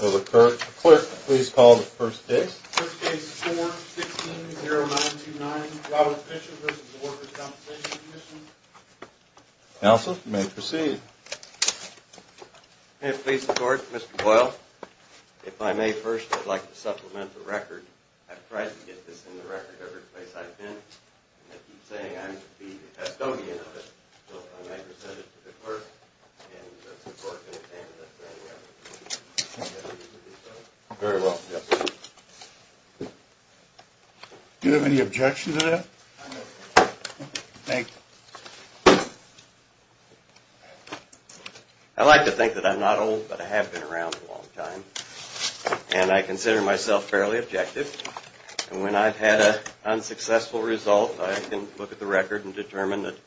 Will the clerk please call the first case. First case, 4-16-0929, Robert Fischer v. Workers' Compensation Comm'n. Counsel, you may proceed. May it please the court, Mr. Boyle, if I may first, I'd like to supplement the record. I've tried to get this in the record every place I've been, and I keep saying I'm the custodian of it. So if I may present it to the clerk and the clerk can examine it very well. Very well, yes sir. Do you have any objection to that? Thank you. I like to think that I'm not old, but I have been around a long time. And I consider myself fairly objective. And when I've had an unsuccessful result, I can look at the record and determine that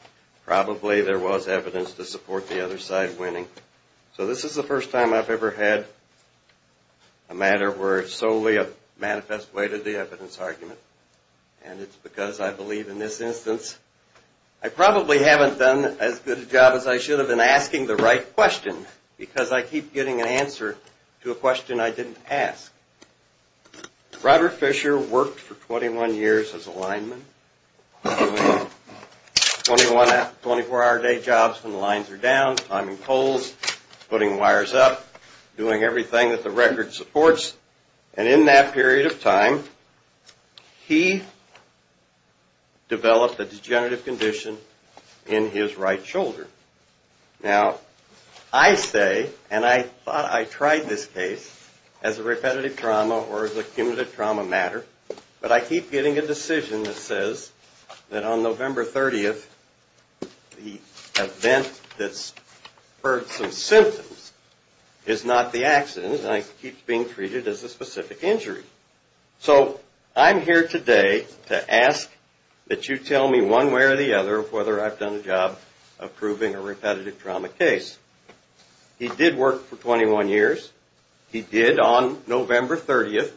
probably there was evidence to support the other side winning. So this is the first time I've ever had a matter where it's solely a manifest way to the evidence argument. And it's because I believe in this instance I probably haven't done as good a job as I should have been asking the right question. Because I keep getting an answer to a question I didn't ask. Robert Fisher worked for 21 years as a lineman. Doing 24 hour a day jobs when the lines are down. Timing poles, putting wires up, doing everything that the record supports. And in that period of time, he developed a degenerative condition in his right shoulder. Now, I say, and I thought I tried this case as a repetitive trauma or as a cumulative trauma matter. But I keep getting a decision that says that on November 30th, the event that's spurred some symptoms is not the accident. And I keep being treated as a specific injury. So I'm here today to ask that you tell me one way or the other whether I've done a job of proving a repetitive trauma case. He did work for 21 years. He did on November 30th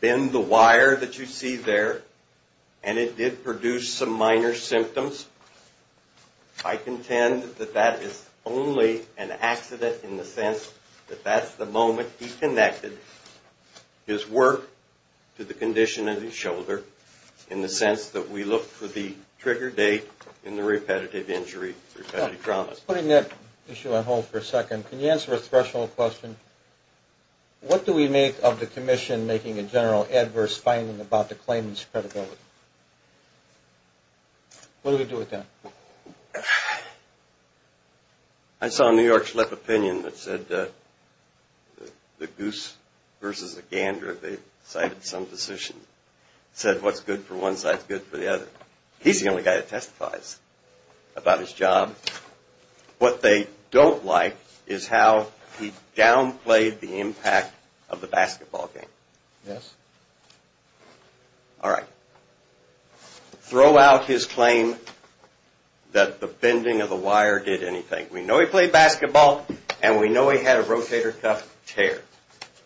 bend the wire that you see there. And it did produce some minor symptoms. I contend that that is only an accident in the sense that that's the moment he connected. His work to the condition of his shoulder in the sense that we look for the trigger date in the repetitive injury, repetitive trauma. Putting that issue on hold for a second, can you answer a threshold question? What do we make of the commission making a general adverse finding about the claimant's credibility? What do we do with that? I saw a New York Slip of Opinion that said the goose versus the gander. They cited some position. It said what's good for one side is good for the other. He's the only guy that testifies about his job. What they don't like is how he downplayed the impact of the basketball game. Yes. All right. Throw out his claim that the bending of the wire did anything. We know he played basketball and we know he had a rotator cuff tear.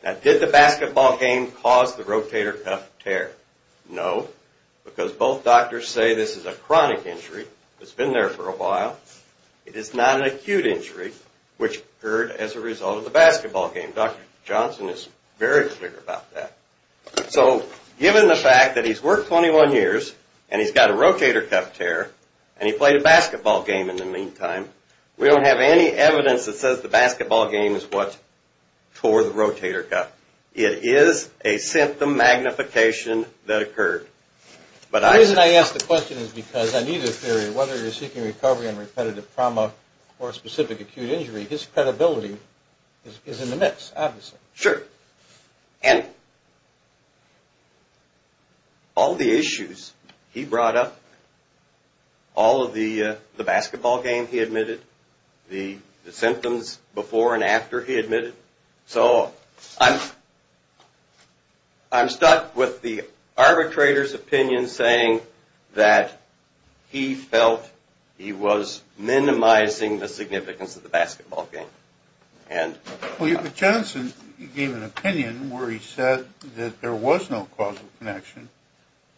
Now did the basketball game cause the rotator cuff tear? No, because both doctors say this is a chronic injury. It's been there for a while. It is not an acute injury which occurred as a result of the basketball game. Dr. Johnson is very clear about that. So given the fact that he's worked 21 years and he's got a rotator cuff tear and he played a basketball game in the meantime, we don't have any evidence that says the basketball game is what tore the rotator cuff. It is a symptom magnification that occurred. The reason I ask the question is because I need a theory. Whether you're seeking recovery on repetitive trauma or a specific acute injury, his credibility is in the mix, obviously. Sure. And all the issues he brought up, all of the basketball game he admitted, the symptoms before and after he admitted. So I'm stuck with the arbitrator's opinion saying that he felt he was minimizing the significance of the basketball game. But Johnson gave an opinion where he said that there was no causal connection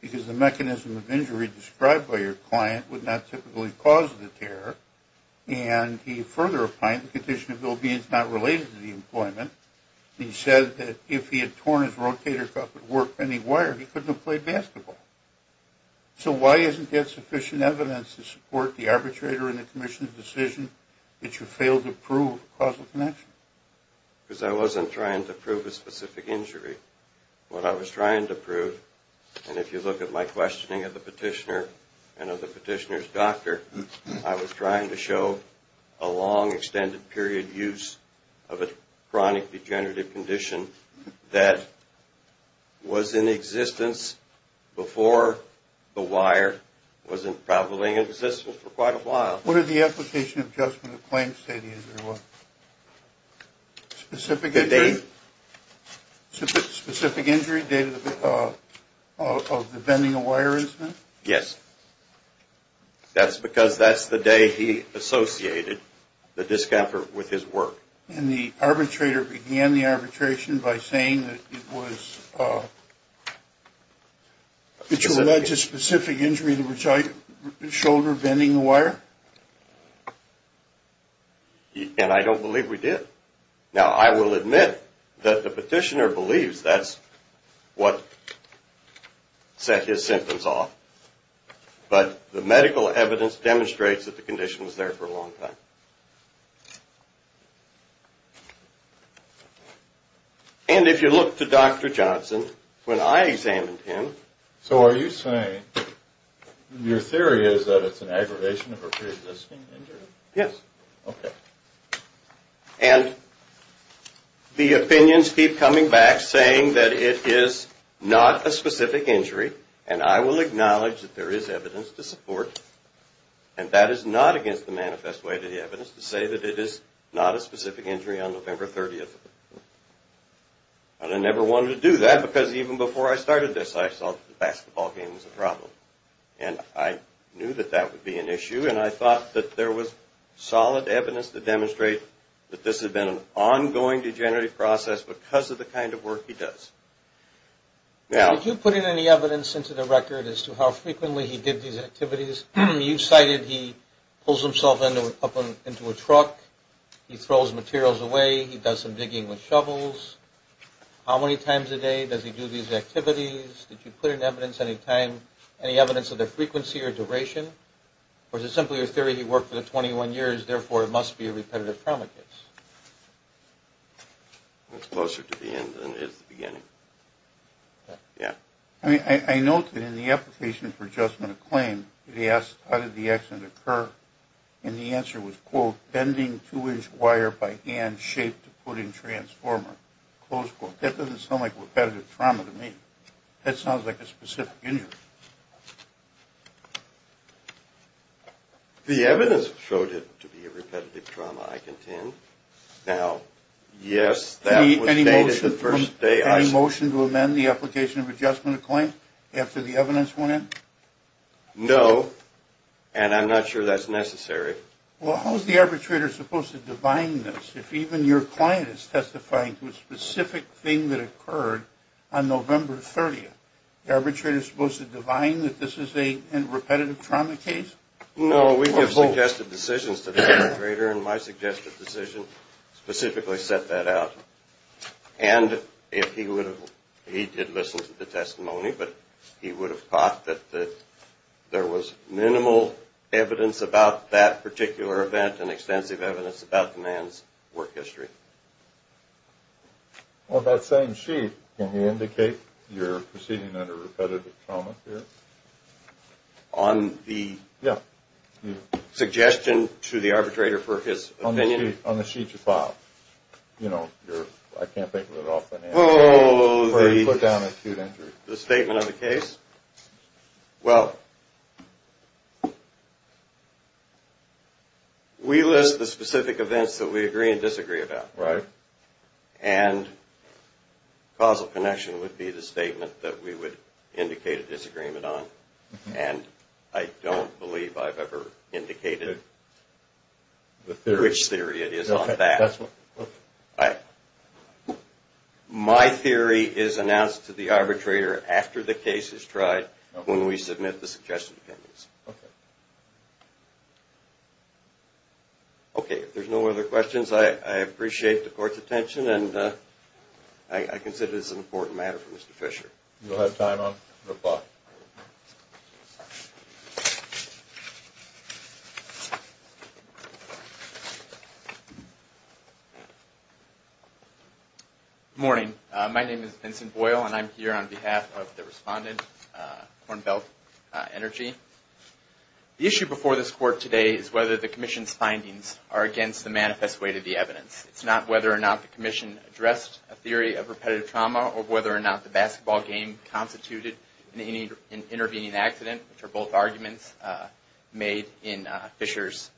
because the mechanism of injury described by your client would not typically cause the tear. And he further opined the condition of ill-being is not related to the employment. He said that if he had torn his rotator cuff at work anywhere, he couldn't have played basketball. So why isn't there sufficient evidence to support the arbitrator in the commission's decision that you failed to prove causal connection? Because I wasn't trying to prove a specific injury. What I was trying to prove, and if you look at my questioning of the petitioner and of the petitioner's doctor, I was trying to show a long extended period use of a chronic degenerative condition that was in existence before the wire wasn't probably in existence for quite a while. What did the application adjustment of claims say to you? Specific injury? Specific injury dated of the bending of wire incident? Yes. That's because that's the day he associated the discomfort with his work. And the arbitrator began the arbitration by saying that it was that you alleged a specific injury to the shoulder bending the wire? And I don't believe we did. Now, I will admit that the petitioner believes that's what set his symptoms off, but the medical evidence demonstrates that the condition was there for a long time. And if you look to Dr. Johnson, when I examined him... So are you saying your theory is that it's an aggravation of a preexisting injury? Yes. Okay. And the opinions keep coming back saying that it is not a specific injury, and I will acknowledge that there is evidence to support, and that is not against the manifest way to the evidence, to say that it is not a specific injury on November 30th. And I never wanted to do that because even before I started this, I thought the basketball game was a problem. And I knew that that would be an issue, and I thought that there was solid evidence to demonstrate that this had been an ongoing degenerative process because of the kind of work he does. Now... Did you put in any evidence into the record as to how frequently he did these activities? You cited he pulls himself up into a truck, he throws materials away, he does some digging with shovels. How many times a day does he do these activities? Did you put in evidence any time, any evidence of the frequency or duration? Or is it simply a theory that he worked for 21 years, therefore it must be a repetitive trauma case? It's closer to the end than it is the beginning. Yeah. I note that in the application for adjustment of claim, he asked how did the accident occur, and the answer was, quote, bending two-inch wire by hand shaped to put in transformer, close quote. That doesn't sound like repetitive trauma to me. That sounds like a specific injury. The evidence showed it to be a repetitive trauma, I contend. Now, yes, that was stated the first day I... Any motion to amend the application of adjustment of claim after the evidence went in? No, and I'm not sure that's necessary. Well, how is the arbitrator supposed to divine this if even your client is testifying to a specific thing that occurred on November 30th? The arbitrator is supposed to divine that this is a repetitive trauma case? No, we give suggested decisions to the arbitrator, and my suggested decision specifically set that out. And if he would have, he did listen to the testimony, but he would have thought that there was minimal evidence about that particular event and extensive evidence about the man's work history. Well, that same sheet, can you indicate you're proceeding under repetitive trauma here? On the... Yeah. Suggestion to the arbitrator for his opinion? On the sheet you filed. You know, I can't think of it off the top of my head. Oh, the... Where he put down acute injury. The statement of the case? Well... We list the specific events that we agree and disagree about. Right. And causal connection would be the statement that we would indicate a disagreement on. And I don't believe I've ever indicated... Which theory? Which theory it is on that. All right. My theory is announced to the arbitrator after the case is tried, when we submit the suggested opinions. Okay. Okay, if there's no other questions, I appreciate the court's attention, and I consider this an important matter for Mr. Fisher. You'll have time on reply. Good morning. My name is Vincent Boyle, and I'm here on behalf of the respondent, Corn Belt Energy. The issue before this court today is whether the commission's findings are against the manifest weight of the evidence. It's not whether or not the commission addressed a theory of repetitive trauma, or whether or not the basketball game constituted an intervening accident, which are both arguments made in Fisher's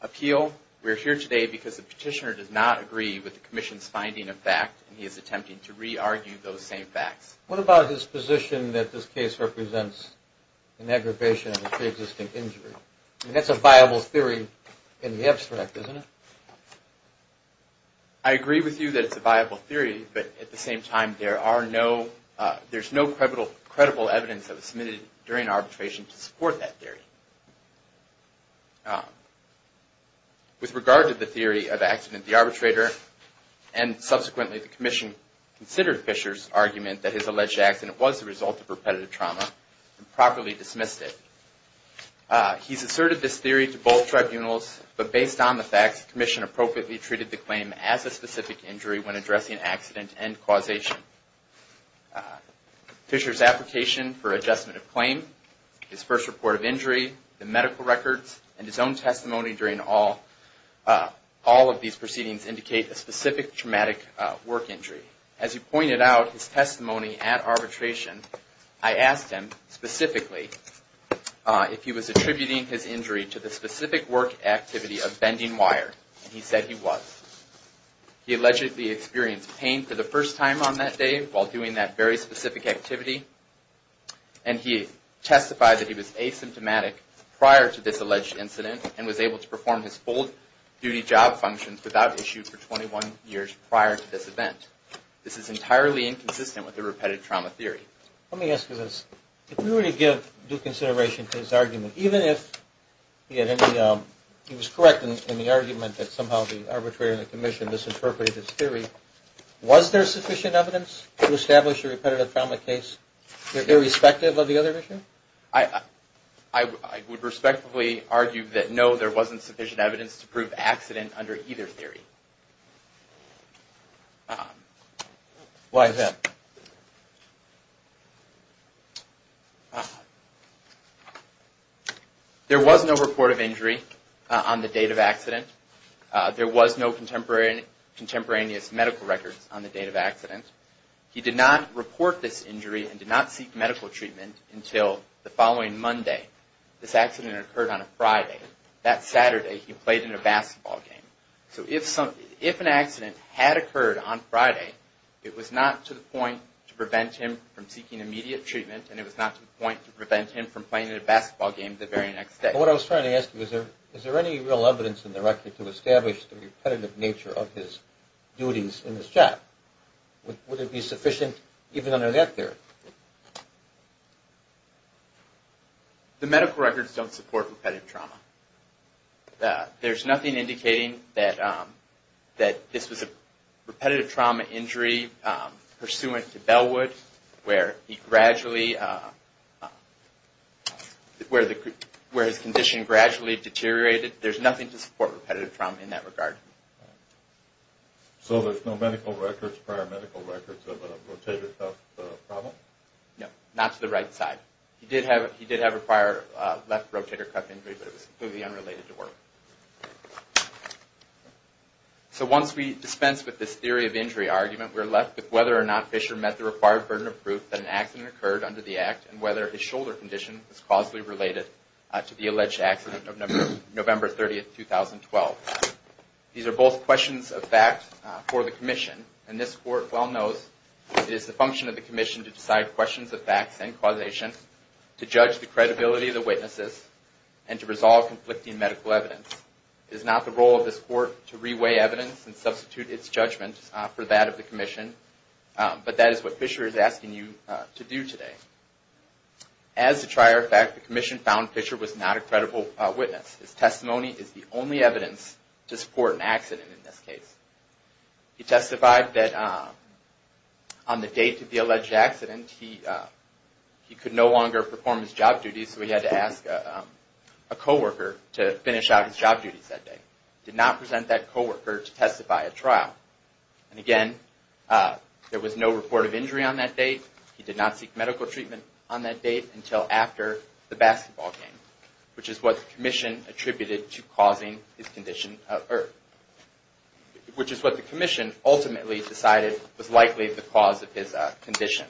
appeal. We're here today because the petitioner does not agree with the commission's finding of fact, and he is attempting to re-argue those same facts. What about his position that this case represents an aggravation of a pre-existing injury? I mean, that's a viable theory in the abstract, isn't it? I agree with you that it's a viable theory, but at the same time, there's no credible evidence that was submitted during arbitration to support that theory. With regard to the theory of accident of the arbitrator, and subsequently the commission considered Fisher's argument that his alleged accident was the result of repetitive trauma, and properly dismissed it. He's asserted this theory to both tribunals, but based on the facts, the commission appropriately treated the claim as a specific injury when addressing accident and causation. Fisher's application for adjustment of claim, his first report of injury, the medical records, and his own testimony during all of these proceedings indicate a specific traumatic work injury. As he pointed out his testimony at arbitration, I asked him specifically if he was attributing his injury to the specific work activity of bending wire, and he said he was. He allegedly experienced pain for the first time on that day, while doing that very specific activity, and he testified that he was asymptomatic prior to this alleged incident, and was able to perform his full duty job functions without issue for 21 years prior to this event. This is entirely inconsistent with the repetitive trauma theory. Let me ask you this. If we were to give due consideration to his argument, even if he was correct in the argument that somehow the arbitrator and the commission misinterpreted his theory, was there sufficient evidence to establish a repetitive trauma case irrespective of the other issue? I would respectfully argue that no, there wasn't sufficient evidence to prove accident under either theory. Why is that? There was no report of injury on the date of accident. There was no contemporaneous medical records on the date of accident. He did not report this injury and did not seek medical treatment until the following Monday. This accident occurred on a Friday. That Saturday he played in a basketball game. So if an accident had occurred on Friday, it was not to the point to prevent him from seeking immediate treatment, and it was not to the point to prevent him from playing in a basketball game the very next day. What I was trying to ask you, is there any real evidence in the record to establish the repetitive nature of his duties in this job? Would it be sufficient even under that theory? The medical records don't support repetitive trauma. There's nothing indicating that this was a repetitive trauma injury pursuant to Bellwood, where his condition gradually deteriorated. There's nothing to support repetitive trauma in that regard. So there's no medical records, prior medical records of a rotator cuff problem? No, not to the right side. He did have a prior left rotator cuff injury, but it was completely unrelated to work. So once we dispense with this theory of injury argument, we're left with whether or not Fisher met the required burden of proof that an accident occurred under the act, and whether his shoulder condition is causally related to the alleged accident of November 30, 2012. These are both questions of fact for the Commission, and this Court well knows it is the function of the Commission to decide questions of facts and causation, to judge the credibility of the witnesses, and to resolve conflicting medical evidence. It is not the role of this Court to re-weigh evidence and substitute its judgment for that of the Commission, but that is what Fisher is asking you to do today. As a trier of fact, the Commission found Fisher was not a credible witness. His testimony is the only evidence to support an accident in this case. He testified that on the date of the alleged accident, he could no longer perform his job duties, so he had to ask a co-worker to finish out his job duties that day. He did not present that co-worker to testify at trial. And again, there was no report of injury on that date. He did not seek medical treatment on that date until after the basketball game, which is what the Commission ultimately decided was likely the cause of his condition.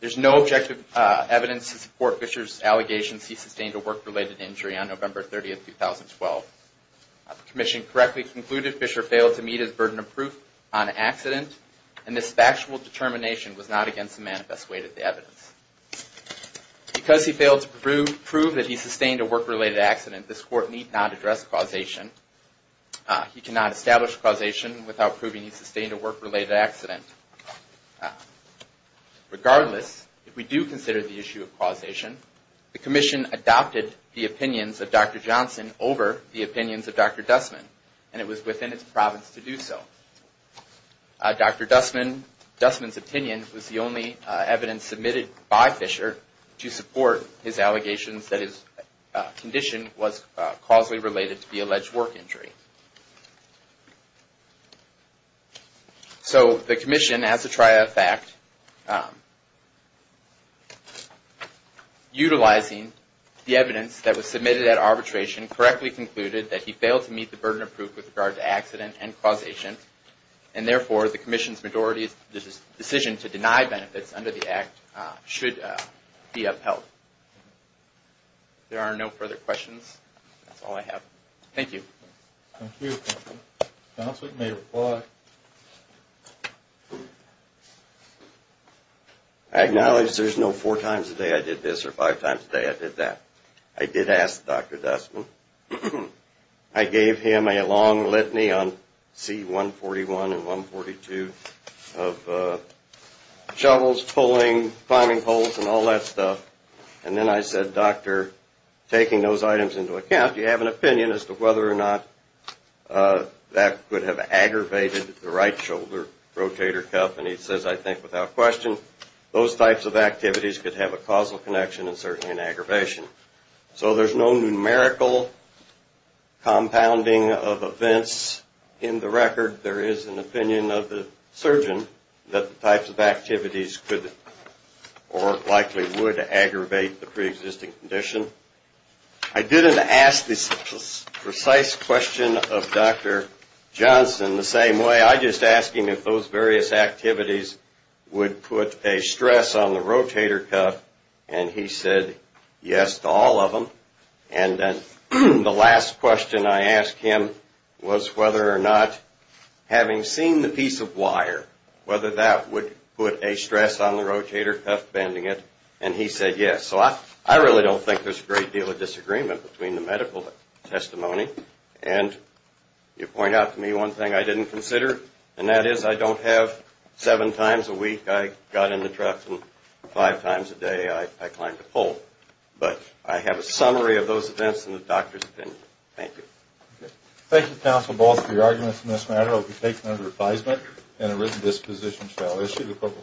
There is no objective evidence to support Fisher's allegations he sustained a work-related injury on November 30, 2012. The Commission correctly concluded Fisher failed to meet his burden of proof on an accident, and this factual determination was not against the manifest weight of the evidence. Because he failed to prove that he sustained a work-related accident, this Court need not address causation. He cannot establish causation without proving he sustained a work-related accident. Regardless, if we do consider the issue of causation, the Commission adopted the opinions of Dr. Johnson over the opinions of Dr. Dustman, and it was within its province to do so. Dr. Dustman's opinion was the only evidence submitted by Fisher to support his allegations that his condition was causally related to the alleged work injury. So the Commission, as a triad of fact, utilizing the evidence that was submitted at arbitration, correctly concluded that he failed to meet the burden of proof with regard to accident and causation, and therefore the Commission's decision to deny benefits under the Act should be upheld. If there are no further questions, that's all I have. Thank you. I acknowledge there's no four times a day I did this or five times a day I did that. I did ask Dr. Dustman. I gave him a long litany on C-141 and 142 of shovels, pulling, climbing poles, and all that stuff. And then I said, Doctor, taking those items into account, do you have an opinion as to whether or not that could have aggravated the right shoulder rotator cuff? And he says, I think without question, those types of activities could have a causal connection and certainly an aggravation. So there's no numerical compounding of events in the record. There is an opinion of the surgeon that the types of activities could or likely would aggravate the preexisting condition. I didn't ask the precise question of Dr. Johnson the same way. I just asked him if those various activities would put a stress on the rotator cuff. And he said yes to all of them. And the last question I asked him was whether or not, having seen the piece of wire, whether that would put a stress on the rotator cuff bending it. And he said yes. So I really don't think there's a great deal of disagreement between the medical testimony. And you point out to me one thing I didn't consider. And that is I don't have seven times a week I got in the truck and five times a day I climbed a pole. But I have a summary of those events in the doctor's opinion. Thank you.